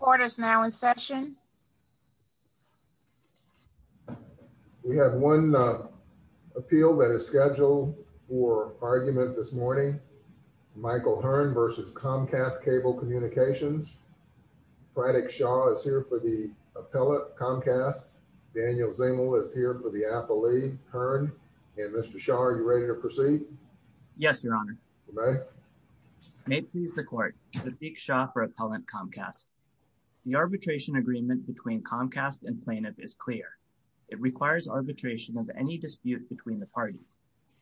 Court is now in session. We have one appeal that is scheduled for argument this morning. Michael Hearn versus Comcast Cable Communications. Fredrick Shaw is here for the appellate Comcast. Daniel Zengel is here for the appellate Hearn. And Mr. Shaw, are you ready to proceed? Yes, Your Honor. May it please the court. Fredrick Shaw for appellate Comcast. The arbitration agreement between Comcast and plaintiff is clear. It requires arbitration of any dispute between the parties.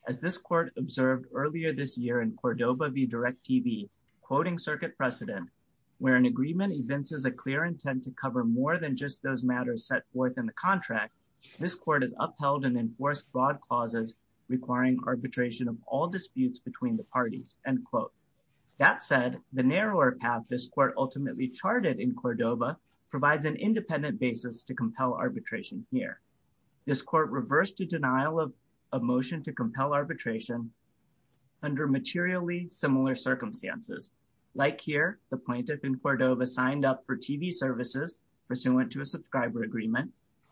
As this court observed earlier this year in Cordova v. Direct TV, quoting circuit precedent, where an agreement evinces a clear intent to cover more than just those matters set forth in the contract, this court has upheld and enforced broad clauses requiring arbitration of all disputes between the parties, end quote. That said, the narrower path this court ultimately charted in Cordova provides an independent basis to compel arbitration here. This court reversed a denial of motion to compel arbitration under materially similar circumstances. Like here, the plaintiff in Cordova signed up for TV services pursuant to a subscriber agreement.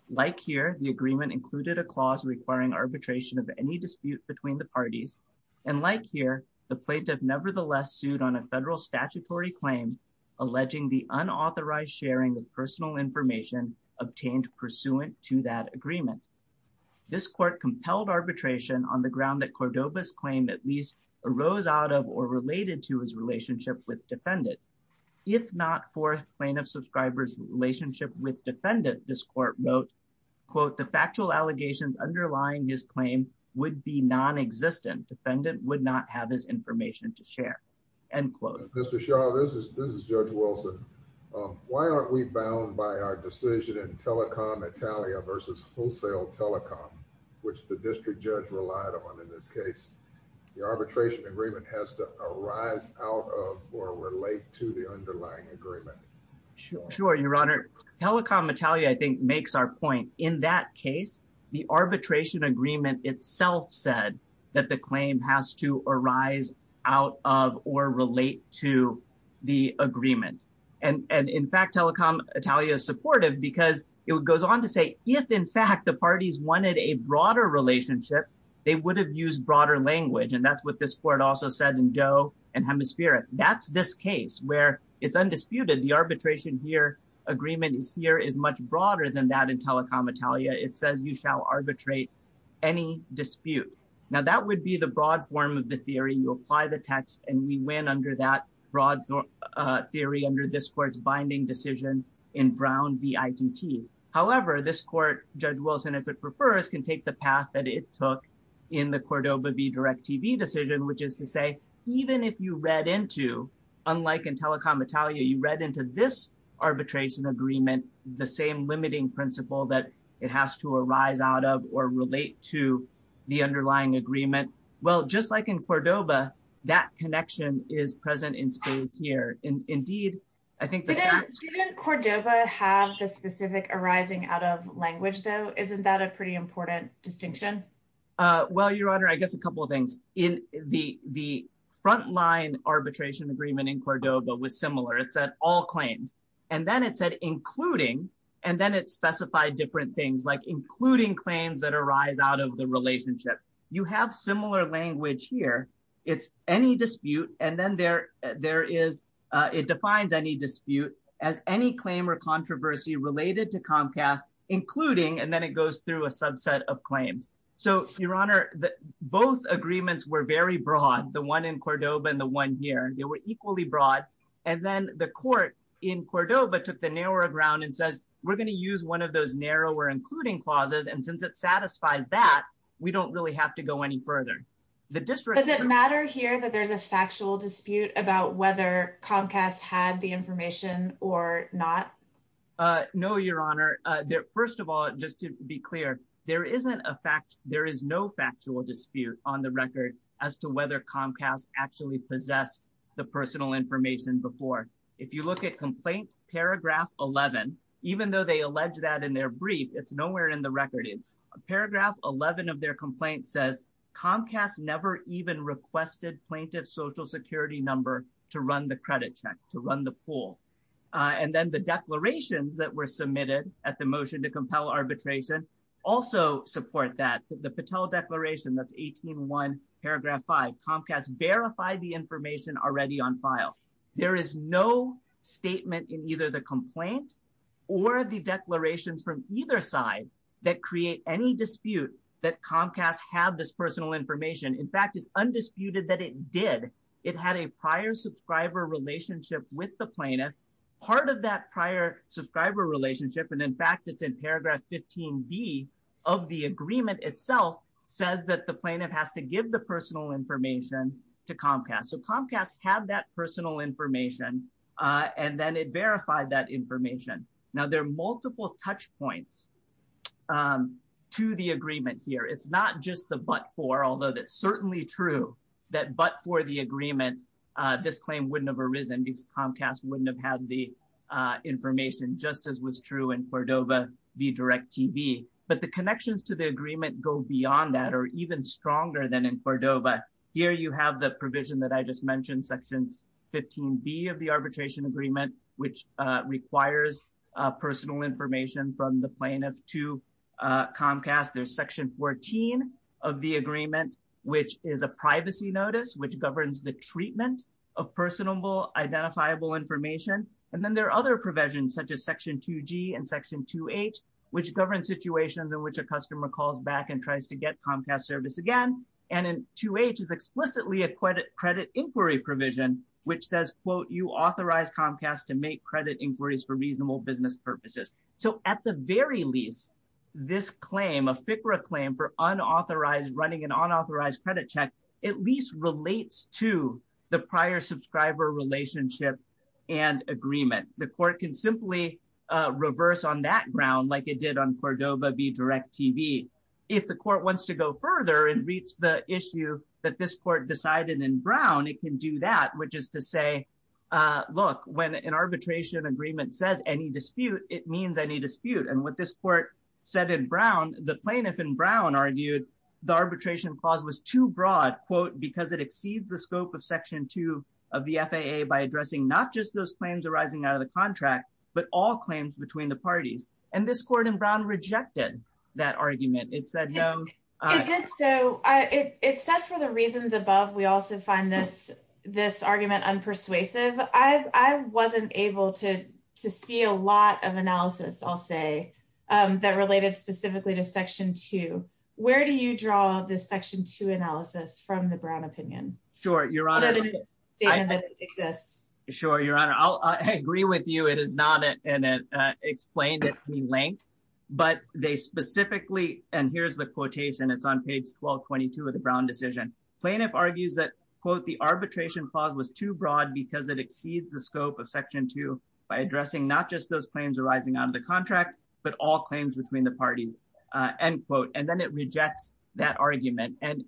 Like here, the agreement included a clause requiring arbitration of any dispute between the parties. And like here, the plaintiff nevertheless sued on a federal statutory claim alleging the unauthorized sharing of personal information obtained pursuant to that agreement. This court compelled arbitration on the ground that Cordova's claim at least arose out of or related to his relationship with defendants. If not for plaintiff subscriber's relationship with defendant, this court wrote, quote, the factual allegations underlying his claim would be non-existent. Defendant would not have his information to share. End quote. Mr. Shaw, this is Judge Wilson. Why aren't we bound by our decision in telecom Italia versus wholesale telecom, which the district judge relied on in this case? The arbitration agreement has to arise out of or relate to the underlying agreement. Sure, your honor. Telecom Italia, I think makes our point. In that case, the arbitration agreement itself said that the claim has to arise out of or relate to the agreement. And in fact, telecom Italia is supportive because it goes on to say, if in fact the parties wanted a broader relationship, they would have used broader language. And that's what this court also said in Doe and Hemisphere. That's this case where it's undisputed. The arbitration here, agreement is here, is much broader than that in telecom Italia. It says you shall arbitrate any dispute. Now that would be the broad form of the theory. You apply the text and we win under that broad theory under this court's binding decision in Brown v. ITT. However, this court, Judge Wilson, if it prefers, can take the path that it took in the Cordoba v. DirecTV decision, which is to say, even if you read into, unlike in telecom Italia, you read into this arbitration agreement the same limiting principle that it has to arise out of or relate to the underlying agreement. Well, just like in Cordoba, that connection is present in Spade's here. And indeed, I think- Didn't Cordoba have the specific arising out of language though? Isn't that a pretty important distinction? Well, Your Honor, I guess a couple of things. In the frontline arbitration agreement in Cordoba was similar. It said all claims. And then it said including, and then it specified different things like including claims that arise out of the relationship. You have similar language here. It's any dispute. And then there is, it defines any dispute as any claim or controversy related to Comcast, including, and then it goes through a subset of claims. So, Your Honor, both agreements were very broad. The one in Cordoba and the one here, they were equally broad. And then the court in Cordoba took the narrower ground and says, we're gonna use one of those narrower including clauses. And since it satisfies that, we don't really have to go any further. The district- Does it matter here that there's a factual dispute about whether Comcast had the information or not? No, Your Honor. First of all, just to be clear, there is no factual dispute on the record as to whether Comcast actually possessed the personal information before. If you look at complaint paragraph 11, even though they allege that in their brief, it's nowhere in the record. Paragraph 11 of their complaint says, Comcast never even requested plaintiff's social security number to run the credit check, to run the pool. And then the declarations that were submitted at the motion to compel arbitration also support that. The Patel Declaration, that's 18.1 paragraph five, Comcast verified the information already on file. There is no statement in either the complaint or the declarations from either side that create any dispute that Comcast had this personal information. In fact, it's undisputed that it did. It had a prior subscriber relationship with the plaintiff. Part of that prior subscriber relationship, and in fact, it's in paragraph 15B of the agreement itself, says that the plaintiff has to give the personal information to Comcast. So Comcast had that personal information and then it verified that information. Now there are multiple touch points to the agreement here. It's not just the but for, although that's certainly true, that but for the agreement, this claim wouldn't have arisen because Comcast wouldn't have had the information just as was true in Cordova v. Direct TV. But the connections to the agreement go beyond that or even stronger than in Cordova. Here you have the provision that I just mentioned, sections 15B of the arbitration agreement, which requires personal information from the plaintiff to Comcast. There's section 14 of the agreement, which is a privacy notice, which governs the treatment of personable, identifiable information. And then there are other provisions such as section 2G and section 2H, which govern situations in which a customer calls back and tries to get Comcast service again. And in 2H is explicitly a credit inquiry provision, which says, quote, you authorize Comcast to make credit inquiries for reasonable business purposes. So at the very least, this claim, a FCRA claim for unauthorized, running an unauthorized credit check, at least relates to the prior subscriber relationship and agreement. The court can simply reverse on that ground, like it did on Cordova v. Direct TV. If the court wants to go further and reach the issue that this court decided in Brown, it can do that, which is to say, look, when an arbitration agreement says any dispute, it means any dispute. And what this court said in Brown, the plaintiff in Brown argued the arbitration clause was too broad, quote, because it exceeds the scope of section two of the FAA by addressing not just those claims arising out of the contract, but all claims between the parties. And this court in Brown rejected that argument. It said no. It did so. It said for the reasons above, we also find this argument unpersuasive. I wasn't able to see a lot of analysis, I'll say, that related specifically to section two. Where do you draw this section two analysis from the Brown opinion? Sure, Your Honor. To this statement that it exists. Sure, Your Honor. I'll agree with you. It is not explained at any length, but they specifically, and here's the quotation, it's on page 1222 of the Brown decision. Plaintiff argues that, quote, the arbitration clause was too broad because it exceeds the scope of section two by addressing not just those claims arising out of the contract, but all claims between the parties, end quote. And then it rejects that argument. And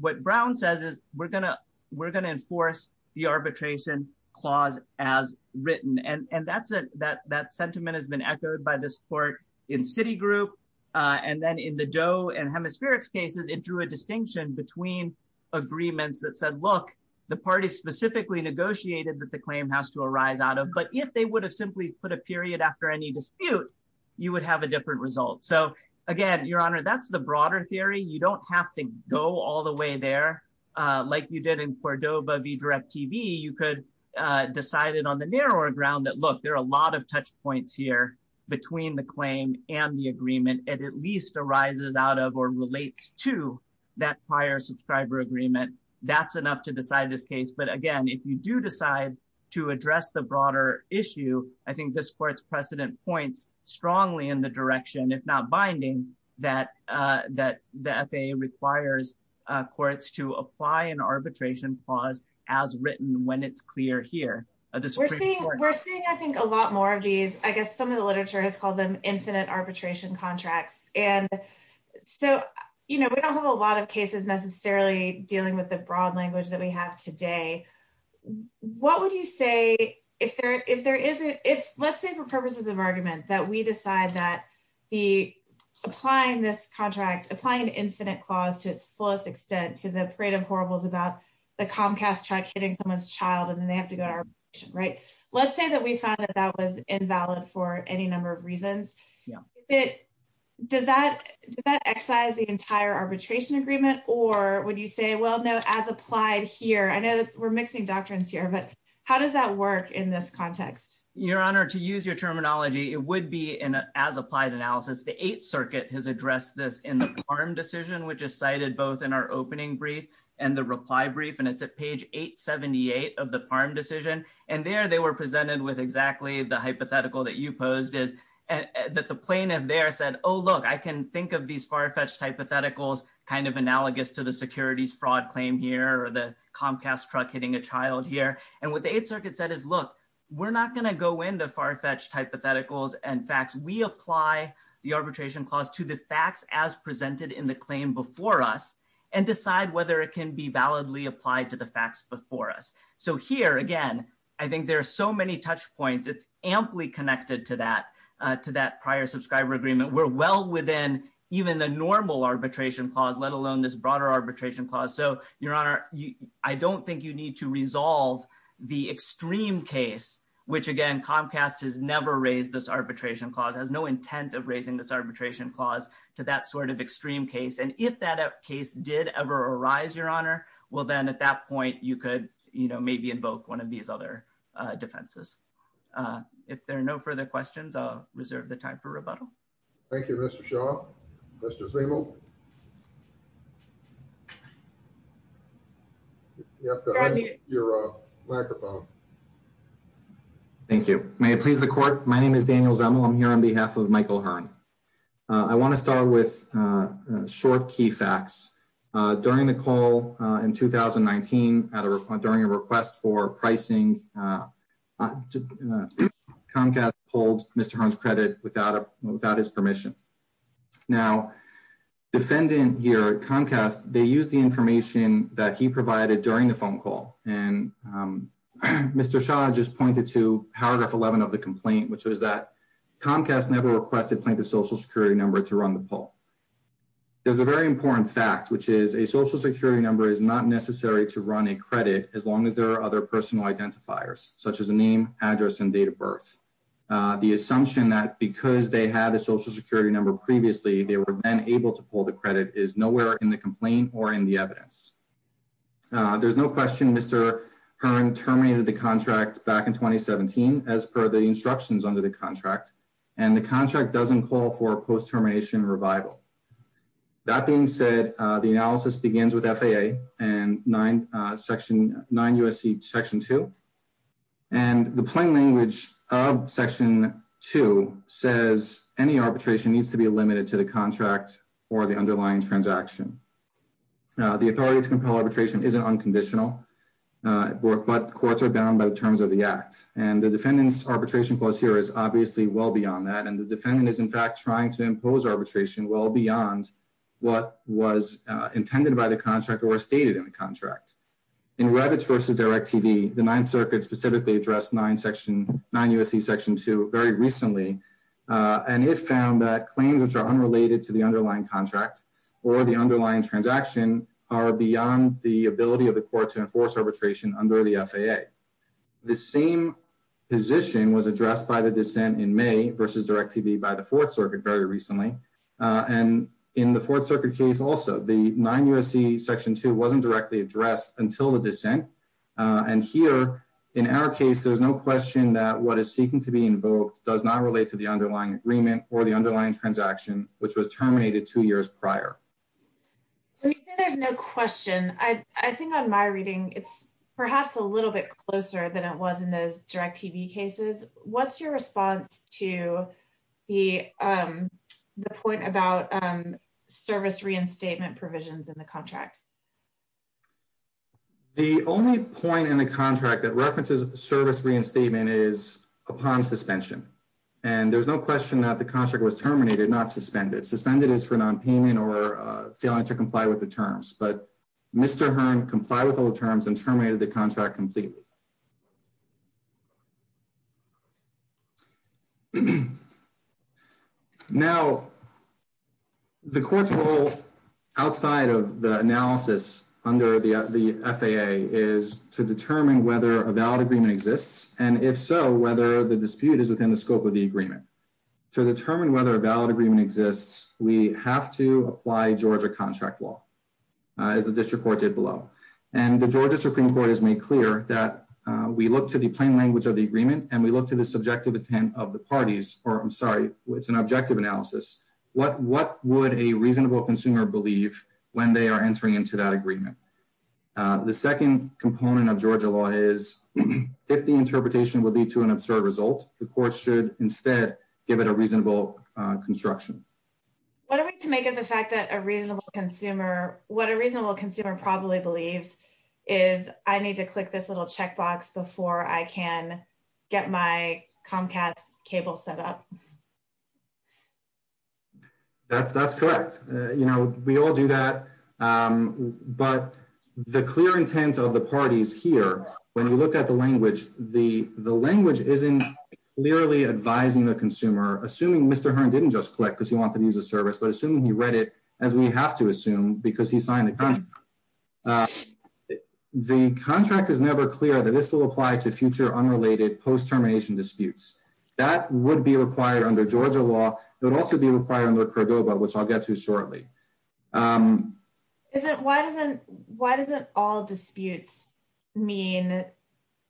what Brown says is we're gonna enforce the arbitration clause as written. And that sentiment has been echoed by this court in Citigroup. And then in the Doe and Hemispherix cases, it drew a distinction between agreements that said, look, the parties specifically negotiated that the claim has to arise out of. But if they would have simply put a period after any dispute, you would have a different result. So again, Your Honor, that's the broader theory. You don't have to go all the way there like you did in Cordova v. DirecTV. You could decide it on the narrower ground that, look, there are a lot of touch points here between the claim and the agreement. It at least arises out of or relates to that prior subscriber agreement. That's enough to decide this case. But again, if you do decide to address the broader issue, I think this court's precedent points strongly in the direction, if not binding, that the FAA requires courts to apply an arbitration clause as written when it's clear here. This is pretty important. We're seeing, I think, a lot more of these, I guess some of the literature has called them infinite arbitration contracts. And so, you know, we don't have a lot of cases necessarily dealing with the broad language that we have today. What would you say if there isn't, let's say for purposes of argument, that we decide that applying this contract, applying an infinite clause to its fullest extent to the parade of horribles about the Comcast truck hitting someone's child and then they have to go to arbitration, right? Let's say that we found that that was invalid for any number of reasons. Does that excise the entire arbitration agreement or would you say, well, no, as applied here, I know that we're mixing doctrines here, but how does that work in this context? Your Honor, to use your terminology, it would be an as applied analysis. The Eighth Circuit has addressed this in the Parham decision which is cited both in our opening brief and the reply brief. And it's at page 878 of the Parham decision. And there they were presented with exactly the hypothetical that you posed is, that the plaintiff there said, oh, look, I can think of these far-fetched hypotheticals kind of analogous to the securities fraud claim here or the Comcast truck hitting a child here. And what the Eighth Circuit said is, look, we're not gonna go into far-fetched hypotheticals and facts. We apply the arbitration clause to the facts as presented in the claim before us and decide whether it can be validly applied to the facts before us. So here, again, I think there are so many touch points. It's amply connected to that prior subscriber agreement. We're well within even the normal arbitration clause, let alone this broader arbitration clause. So Your Honor, I don't think you need to resolve the extreme case, which again, Comcast has never raised this arbitration clause, has no intent of raising this arbitration clause to that sort of extreme case. And if that case did ever arise, Your Honor, well, then at that point, you could maybe invoke one of these other defenses. If there are no further questions, I'll reserve the time for rebuttal. Thank you, Mr. Shaw. Mr. Zimmel. You have to unmute your microphone. Thank you. May it please the court. My name is Daniel Zimmel. I'm here on behalf of Michael Hearn. I wanna start with short key facts. During the call in 2019, during a request for pricing, Comcast pulled Mr. Hearn's credit without his permission. Now, defendant here at Comcast, they used the information that he provided during the phone call. And Mr. Shaw just pointed to paragraph 11 of the complaint, which was that Comcast never requested plaintiff's social security number to run the poll. There's a very important fact, which is a social security number is not necessary to run a credit, as long as there are other personal identifiers, such as a name, address, and date of birth. The assumption that because they had a social security number previously, they were then able to pull the credit is nowhere in the complaint or in the evidence. There's no question Mr. Hearn terminated the contract back in 2017, as per the instructions under the contract. And the contract doesn't call for post-termination revival. That being said, the analysis begins with FAA and 9 U.S.C. section two. And the plain language of section two says, any arbitration needs to be limited to the contract or the underlying transaction. The authority to compel arbitration isn't unconditional, but courts are bound by the terms of the act. And the defendant's arbitration clause here is obviously well beyond that. And the defendant is in fact trying to impose arbitration well beyond what was intended by the contractor or stated in the contract. In Revit versus DirecTV, the Ninth Circuit specifically addressed 9 U.S.C. section two very recently. And it found that claims which are unrelated to the underlying contract or the underlying transaction are beyond the ability of the court to enforce arbitration under the FAA. The same position was addressed by the dissent in May versus DirecTV by the Fourth Circuit very recently. And in the Fourth Circuit case also, the 9 U.S.C. section two wasn't directly addressed until the dissent. And here in our case, there's no question that what is seeking to be invoked does not relate to the underlying agreement or the underlying transaction, which was terminated two years prior. So you say there's no question. I think on my reading, it's perhaps a little bit closer than it was in those DirecTV cases. What's your response to the point about service reinstatement provisions in the contract? The only point in the contract that references service reinstatement is upon suspension. And there's no question that the contract was terminated, not suspended. Suspended is for non-payment or failing to comply with the terms. But Mr. Hearn complied with all the terms and terminated the contract completely. Now, the court's role outside of the analysis under the FAA is to determine whether a valid agreement exists. And if so, whether the dispute is within the scope of the agreement. To determine whether a valid agreement exists, we have to apply Georgia contract law as the district court did below. And the Georgia Supreme Court has made clear that we look to the plain language of the agreement and we look to the subjective intent of the parties, or I'm sorry, it's an objective analysis. What would a reasonable consumer believe when they are entering into that agreement? The second component of Georgia law is if the interpretation will lead to an absurd result, the court should instead give it a reasonable construction. What are we to make of the fact that a reasonable consumer, what a reasonable consumer probably believes is I need to click this little checkbox before I can get my Comcast cable set up. That's correct. We all do that, but the clear intent of the parties here, when you look at the language, the language isn't clearly advising the consumer, assuming Mr. Hearn didn't just click because he wanted to use a service, but assuming he read it as we have to assume because he signed the contract. The contract is never clear that this will apply to future unrelated post-termination disputes. That would be required under Georgia law, but also be required under Cordova, which I'll get to shortly. Why doesn't all disputes mean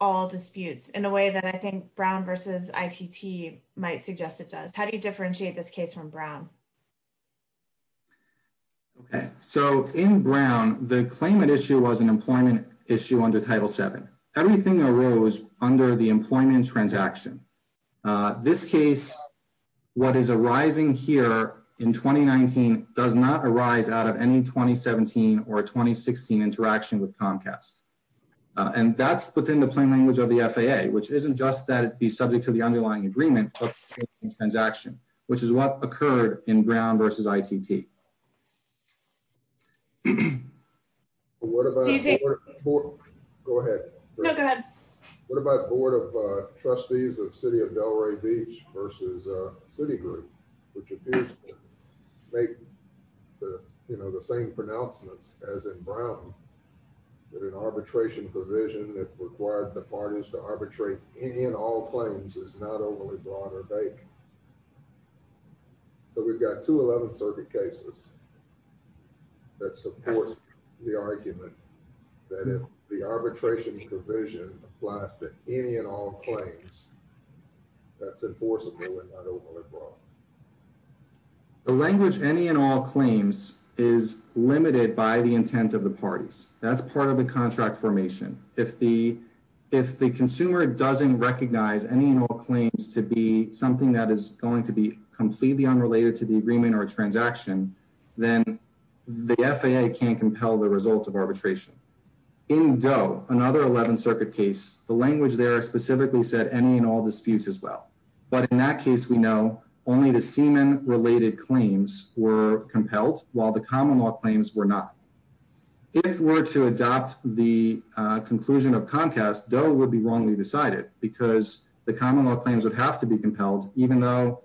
all disputes in a way that I think Brown versus ITT might suggest it does? How do you differentiate this case from Brown? Okay, so in Brown, the claimant issue was an employment issue under Title VII. Everything arose under the employment transaction. This case, what is arising here in 2019 does not arise out of any 2017 or 2016 interaction with Comcast. And that's within the plain language of the FAA, which isn't just that it'd be subject to the underlying agreement of the transaction, which is what occurred in Brown versus ITT. What about- Do you think- Go ahead. No, go ahead. What about Board of Trustees of City of Delray Beach versus Citigroup, which appears to make that an arbitration provision that required the parties to arbitrate any and all claims is not overly broad or vague? So we've got two 11th Circuit cases that support the argument that if the arbitration provision applies to any and all claims, that's enforceable and not overly broad. The language any and all claims is limited by the intent of the parties. That's part of the contract formation. If the consumer doesn't recognize any and all claims to be something that is going to be completely unrelated to the agreement or transaction, then the FAA can't compel the result of arbitration. In Doe, another 11th Circuit case, the language there specifically said any and all disputes as well. But in that case, we know only the semen-related claims were compelled while the common law claims were not. If it were to adopt the conclusion of Comcast, Doe would be wrongly decided because the common law claims would have to be compelled, even though,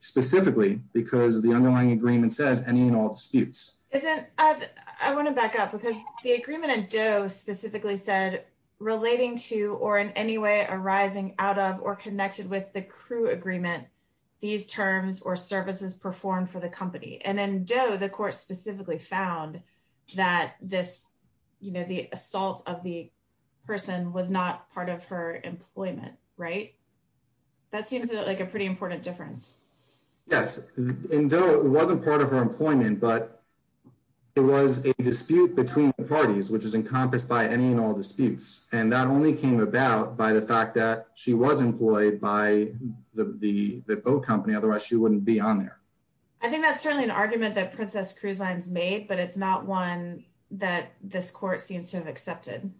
specifically, because the underlying agreement says any and all disputes. And then I wanna back up because the agreement in Doe specifically said relating to or in any way arising out of or connected with the crew agreement, these terms or services performed for the company. And in Doe, the court specifically found that this, you know, the assault of the person was not part of her employment, right? That seems like a pretty important difference. Yes. In Doe, it wasn't part of her employment, but it was a dispute between the parties, which is encompassed by any and all disputes. And that only came about by the fact that she was employed by the boat company, otherwise she wouldn't be on there. I think that's certainly an argument that Princess Cruise Line's made, but it's not one that this court seems to have accepted.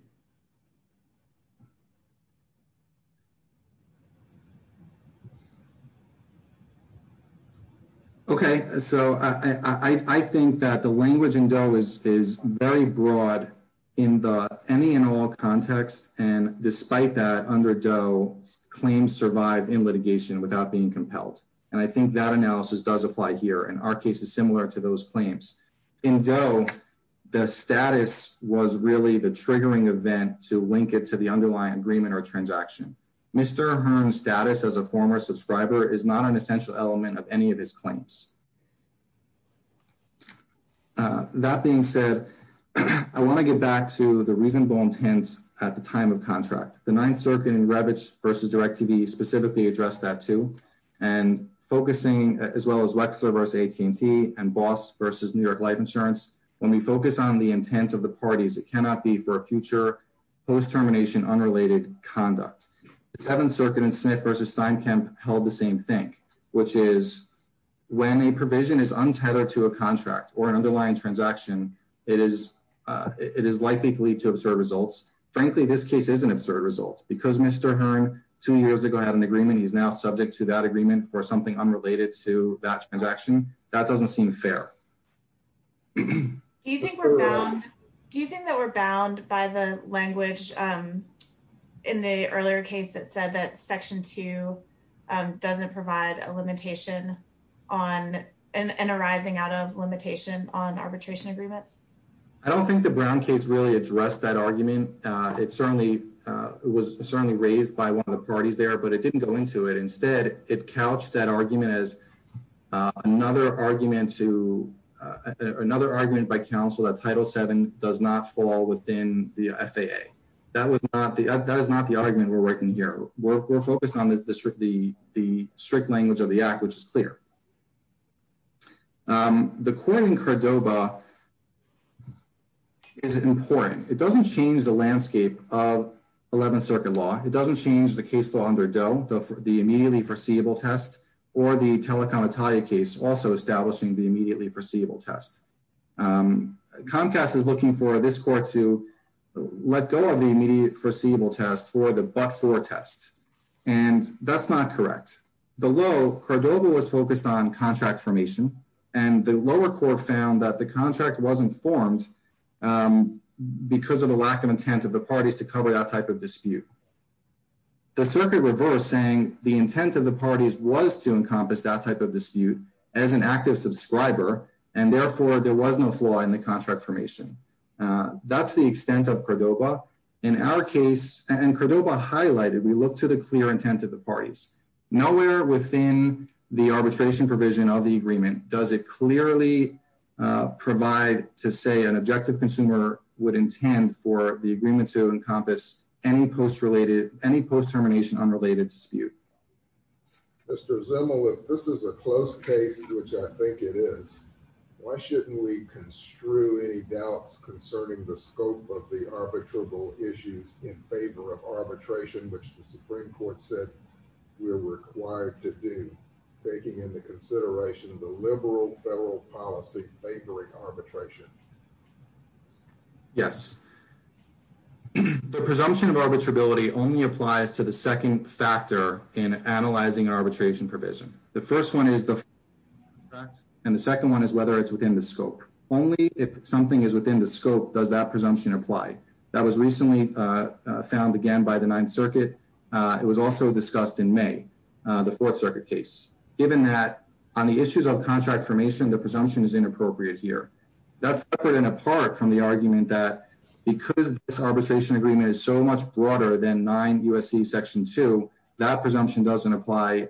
Okay, so I think that the language in Doe is very broad in the any and all context. And despite that, under Doe, claims survive in litigation without being compelled. And I think that analysis does apply here, and our case is similar to those claims. In Doe, the status was really the triggering event to link it to the underlying agreement or transaction. Mr. Hearn's status as a former subscriber is not an essential element of any of his claims. That being said, I wanna get back to the reasonable intent at the time of contract. The Ninth Circuit in Revitch versus DirecTV specifically addressed that too. And focusing as well as Wexler versus AT&T and Boss versus New York Life Insurance, when we focus on the intent of the parties, it cannot be for a future post-termination unrelated conduct. The Seventh Circuit in Smith versus Steinkamp held the same thing, which is when a provision is untethered to a contract or an underlying transaction, it is likely to lead to absurd results. Frankly, this case is an absurd result because Mr. Hearn two years ago had an agreement, he's now subject to that agreement for something unrelated to that transaction. That doesn't seem fair. Do you think we're bound, do you think that we're bound by the language in the earlier case that said that section two doesn't provide a limitation on, and arising out of limitation on arbitration agreements? I don't think the Brown case really addressed that argument. It certainly was certainly raised by one of the parties there, but it didn't go into it. Instead, it couched that argument as another argument by counsel that Title VII does not fall within the FAA. That is not the argument we're working here. We're focused on the strict language of the act, which is clear. The court in Cordova is important. It doesn't change the landscape of 11th Circuit law. It doesn't change the case law under Doe, the immediately foreseeable test, or the Telecom Italia case, also establishing the immediately foreseeable test. Comcast is looking for this court to let go of the immediate foreseeable test for the but-for test, and that's not correct. Below, Cordova was focused on contract formation, and the lower court found that the contract wasn't formed because of the lack of intent of the parties to cover that type of dispute. The circuit reversed, saying the intent of the parties was to encompass that type of dispute as an active subscriber, and therefore there was no flaw in the contract formation. That's the extent of Cordova. In our case, and Cordova highlighted, we look to the clear intent of the parties. Nowhere within the arbitration provision of the agreement does it clearly provide to say an objective consumer would intend for the agreement to encompass any post-termination unrelated dispute. Mr. Zimmel, if this is a close case, which I think it is, why shouldn't we construe any doubts concerning the scope of the arbitrable issues in favor of arbitration, which the Supreme Court said we're required to do, taking into consideration the liberal federal policy favoring arbitration? Yes. The presumption of arbitrability only applies to the second factor in analyzing arbitration provision. The first one is the contract, and the second one is whether it's within the scope. Only if something is within the scope does that presumption apply. That was recently found again by the Ninth Circuit. It was also discussed in May, the Fourth Circuit case. Given that on the issues of contract formation, the presumption is inappropriate here. That's separate and apart from the argument that because this arbitration agreement is so much broader than 9 U.S.C. Section 2, that presumption doesn't apply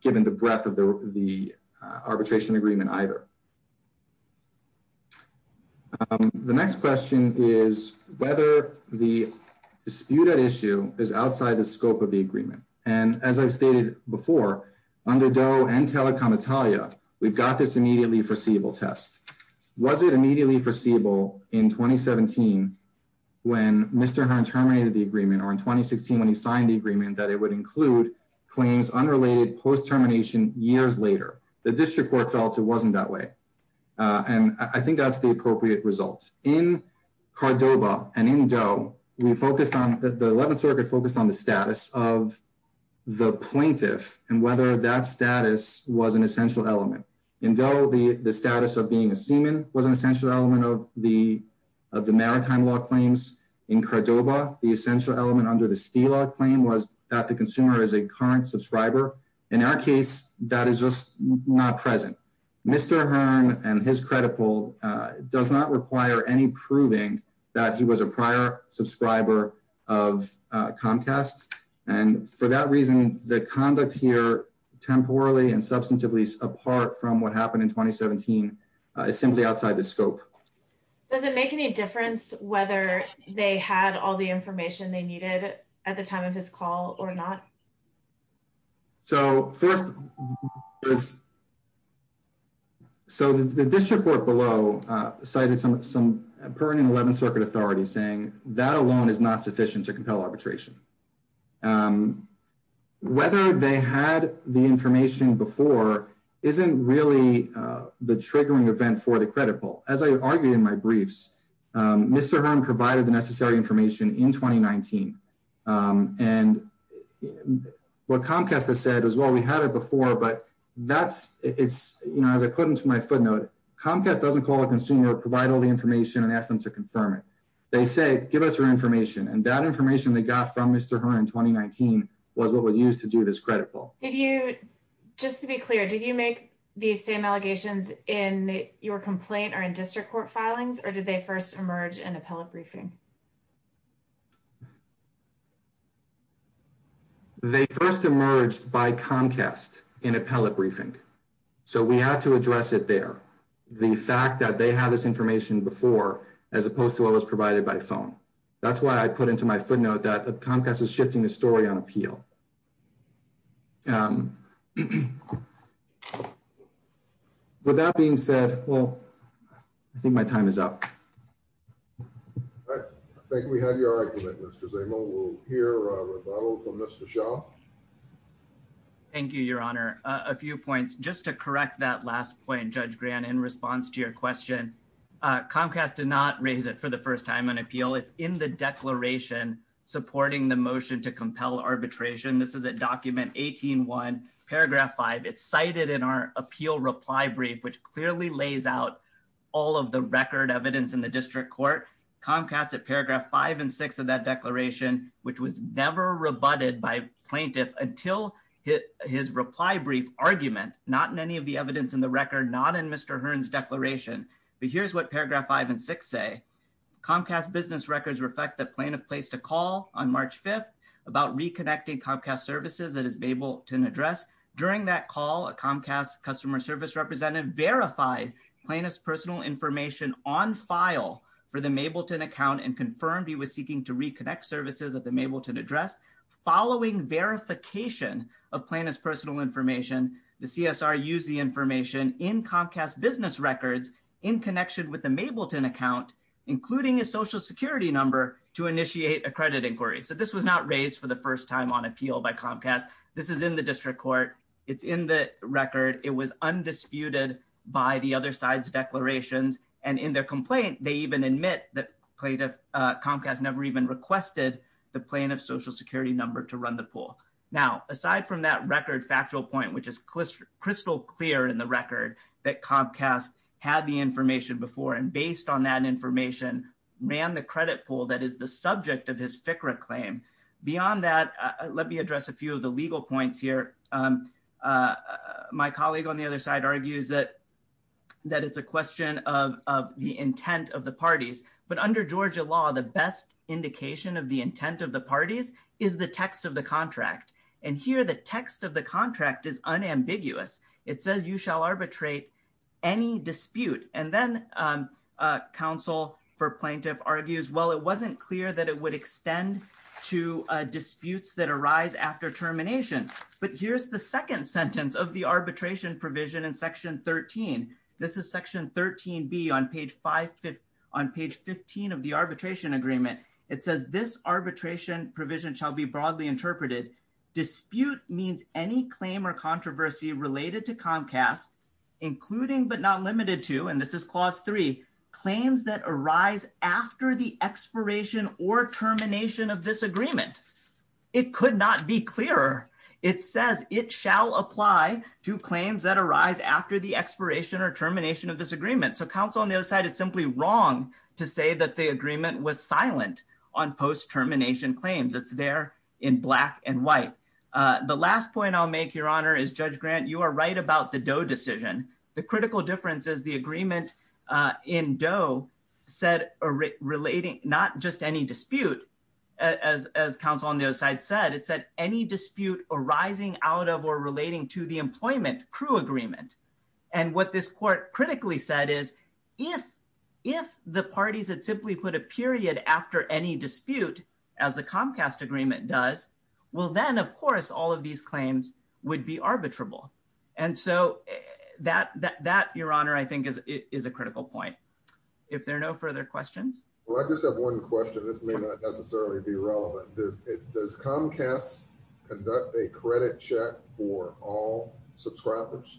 given the breadth of the arbitration agreement either. The next question is whether the dispute at issue is outside the scope of the agreement. And as I've stated before, under Doe and telecom Italia, we've got this immediately foreseeable test. Was it immediately foreseeable in 2017 when Mr. Hearn terminated the agreement, or in 2016 when he signed the agreement that it would include claims unrelated post-termination years later? The district court felt it wasn't that way. And I think that's the appropriate result. In Cordova and in Doe, the 11th Circuit focused on the status of the plaintiff and whether that status was an essential element. In Doe, the status of being a seaman was an essential element of the maritime law claims. In Cordova, the essential element under the Steelaw claim was that the consumer is a current subscriber. In our case, that is just not present. Mr. Hearn and his credible does not require any proving that he was a prior subscriber of Comcast. And for that reason, the conduct here, temporally and substantively apart from what happened in 2017, is simply outside the scope. Does it make any difference whether they had all the information they needed at the time of his call or not? So first, so the district court below cited some current and 11th Circuit authorities saying that alone is not sufficient to compel arbitration. Whether they had the information before isn't really the triggering event for the credit poll. As I argued in my briefs, Mr. Hearn provided the necessary information in 2019. And what Comcast has said as well, we had it before, but that's, it's, you know, as I put into my footnote, Comcast doesn't call a consumer, provide all the information and ask them to confirm it. They say, give us your information. And that information they got from Mr. Hearn in 2019 was what was used to do this credit poll. Did you, just to be clear, did you make these same allegations in your complaint or in district court filings, or did they first emerge in appellate briefing? They first emerged by Comcast in appellate briefing. So we had to address it there. The fact that they had this information before, as opposed to what was provided by phone. That's why I put into my footnote that Comcast is shifting the story on appeal. With that being said, well, I think my time is up. I think we have your argument, Mr. Zamo. We'll hear a rebuttal from Mr. Shaw. Thank you, your honor. A few points, just to correct that last point, Judge Grant, in response to your question, Comcast did not raise it for the first time on appeal. It's in the declaration supporting the motion to compel arbitration. This is at document 18-1, paragraph five. It's cited in our appeal reply brief, which clearly lays out all of the record evidence in the district court. Comcast at paragraph five and six of that declaration, which was never rebutted by plaintiff until his reply brief argument, not in any of the evidence in the record, not in Mr. Hearn's declaration. But here's what paragraph five and six say. Comcast business records reflect that plaintiff placed a call on March 5th about reconnecting Comcast services that his Mableton address. During that call, a Comcast customer service representative verified plaintiff's personal information on file for the Mableton account and confirmed he was seeking to reconnect services at the Mableton address. Following verification of plaintiff's personal information, the CSR used the information in Comcast business records in connection with the Mableton account, including his social security number to initiate a credit inquiry. So this was not raised for the first time on appeal by Comcast. This is in the district court. It's in the record. It was undisputed by the other side's declarations. And in their complaint, they even admit that plaintiff Comcast never even requested the plaintiff's social security number to run the pool. Now, aside from that record factual point, which is crystal clear in the record that Comcast had the information before and based on that information, ran the credit pool that is the subject of his FCRA claim. Beyond that, let me address a few of the legal points here. My colleague on the other side argues that it's a question of the intent of the parties, but under Georgia law, the best indication of the intent of the parties is the text of the contract. And here the text of the contract is unambiguous. It says you shall arbitrate any dispute. And then counsel for plaintiff argues, well, it wasn't clear that it would extend to disputes that arise after termination. But here's the second sentence of the arbitration provision in section 13. This is section 13B on page 15 of the arbitration agreement. It says this arbitration provision shall be broadly interpreted. Dispute means any claim or controversy related to Comcast, including but not limited to, and this is clause three, claims that arise after the expiration or termination of this agreement. It could not be clearer. It says it shall apply to claims that arise after the expiration or termination of this agreement. So counsel on the other side is simply wrong to say that the agreement was silent on post termination claims. It's there in black and white. The last point I'll make, your honor, is Judge Grant, you are right about the Doe decision. The critical difference is the agreement in Doe said relating not just any dispute, as counsel on the other side said, it said any dispute arising out of or relating to the employment crew agreement. And what this court critically said is if the parties had simply put a period after any dispute as the Comcast agreement does, well then of course all of these claims would be arbitrable. And so that, your honor, I think is a critical point. If there are no further questions. Well, I just have one question. This may not necessarily be relevant. Does Comcast conduct a credit check for all subscribers?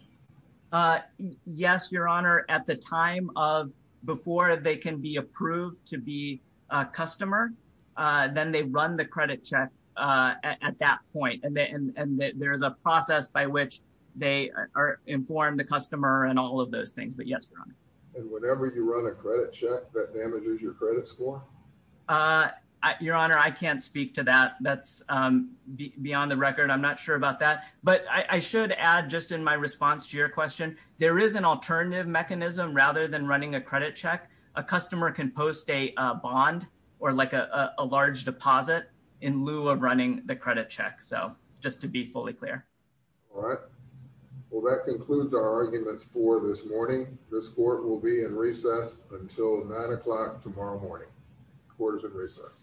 Yes, your honor, at the time of before they can be approved to be a customer, then they run the credit check at that point. And there's a process by which they inform the customer and all of those things, but yes, your honor. And whenever you run a credit check, that damages your credit score? Your honor, I can't speak to that. That's beyond the record. I'm not sure about that. But I should add just in my response to your question, there is an alternative mechanism rather than running a credit check. A customer can post a bond or like a large deposit in lieu of running the credit check. So just to be fully clear. All right. Well, that concludes our arguments for this morning. This court will be in recess until nine o'clock tomorrow morning. Court is in recess.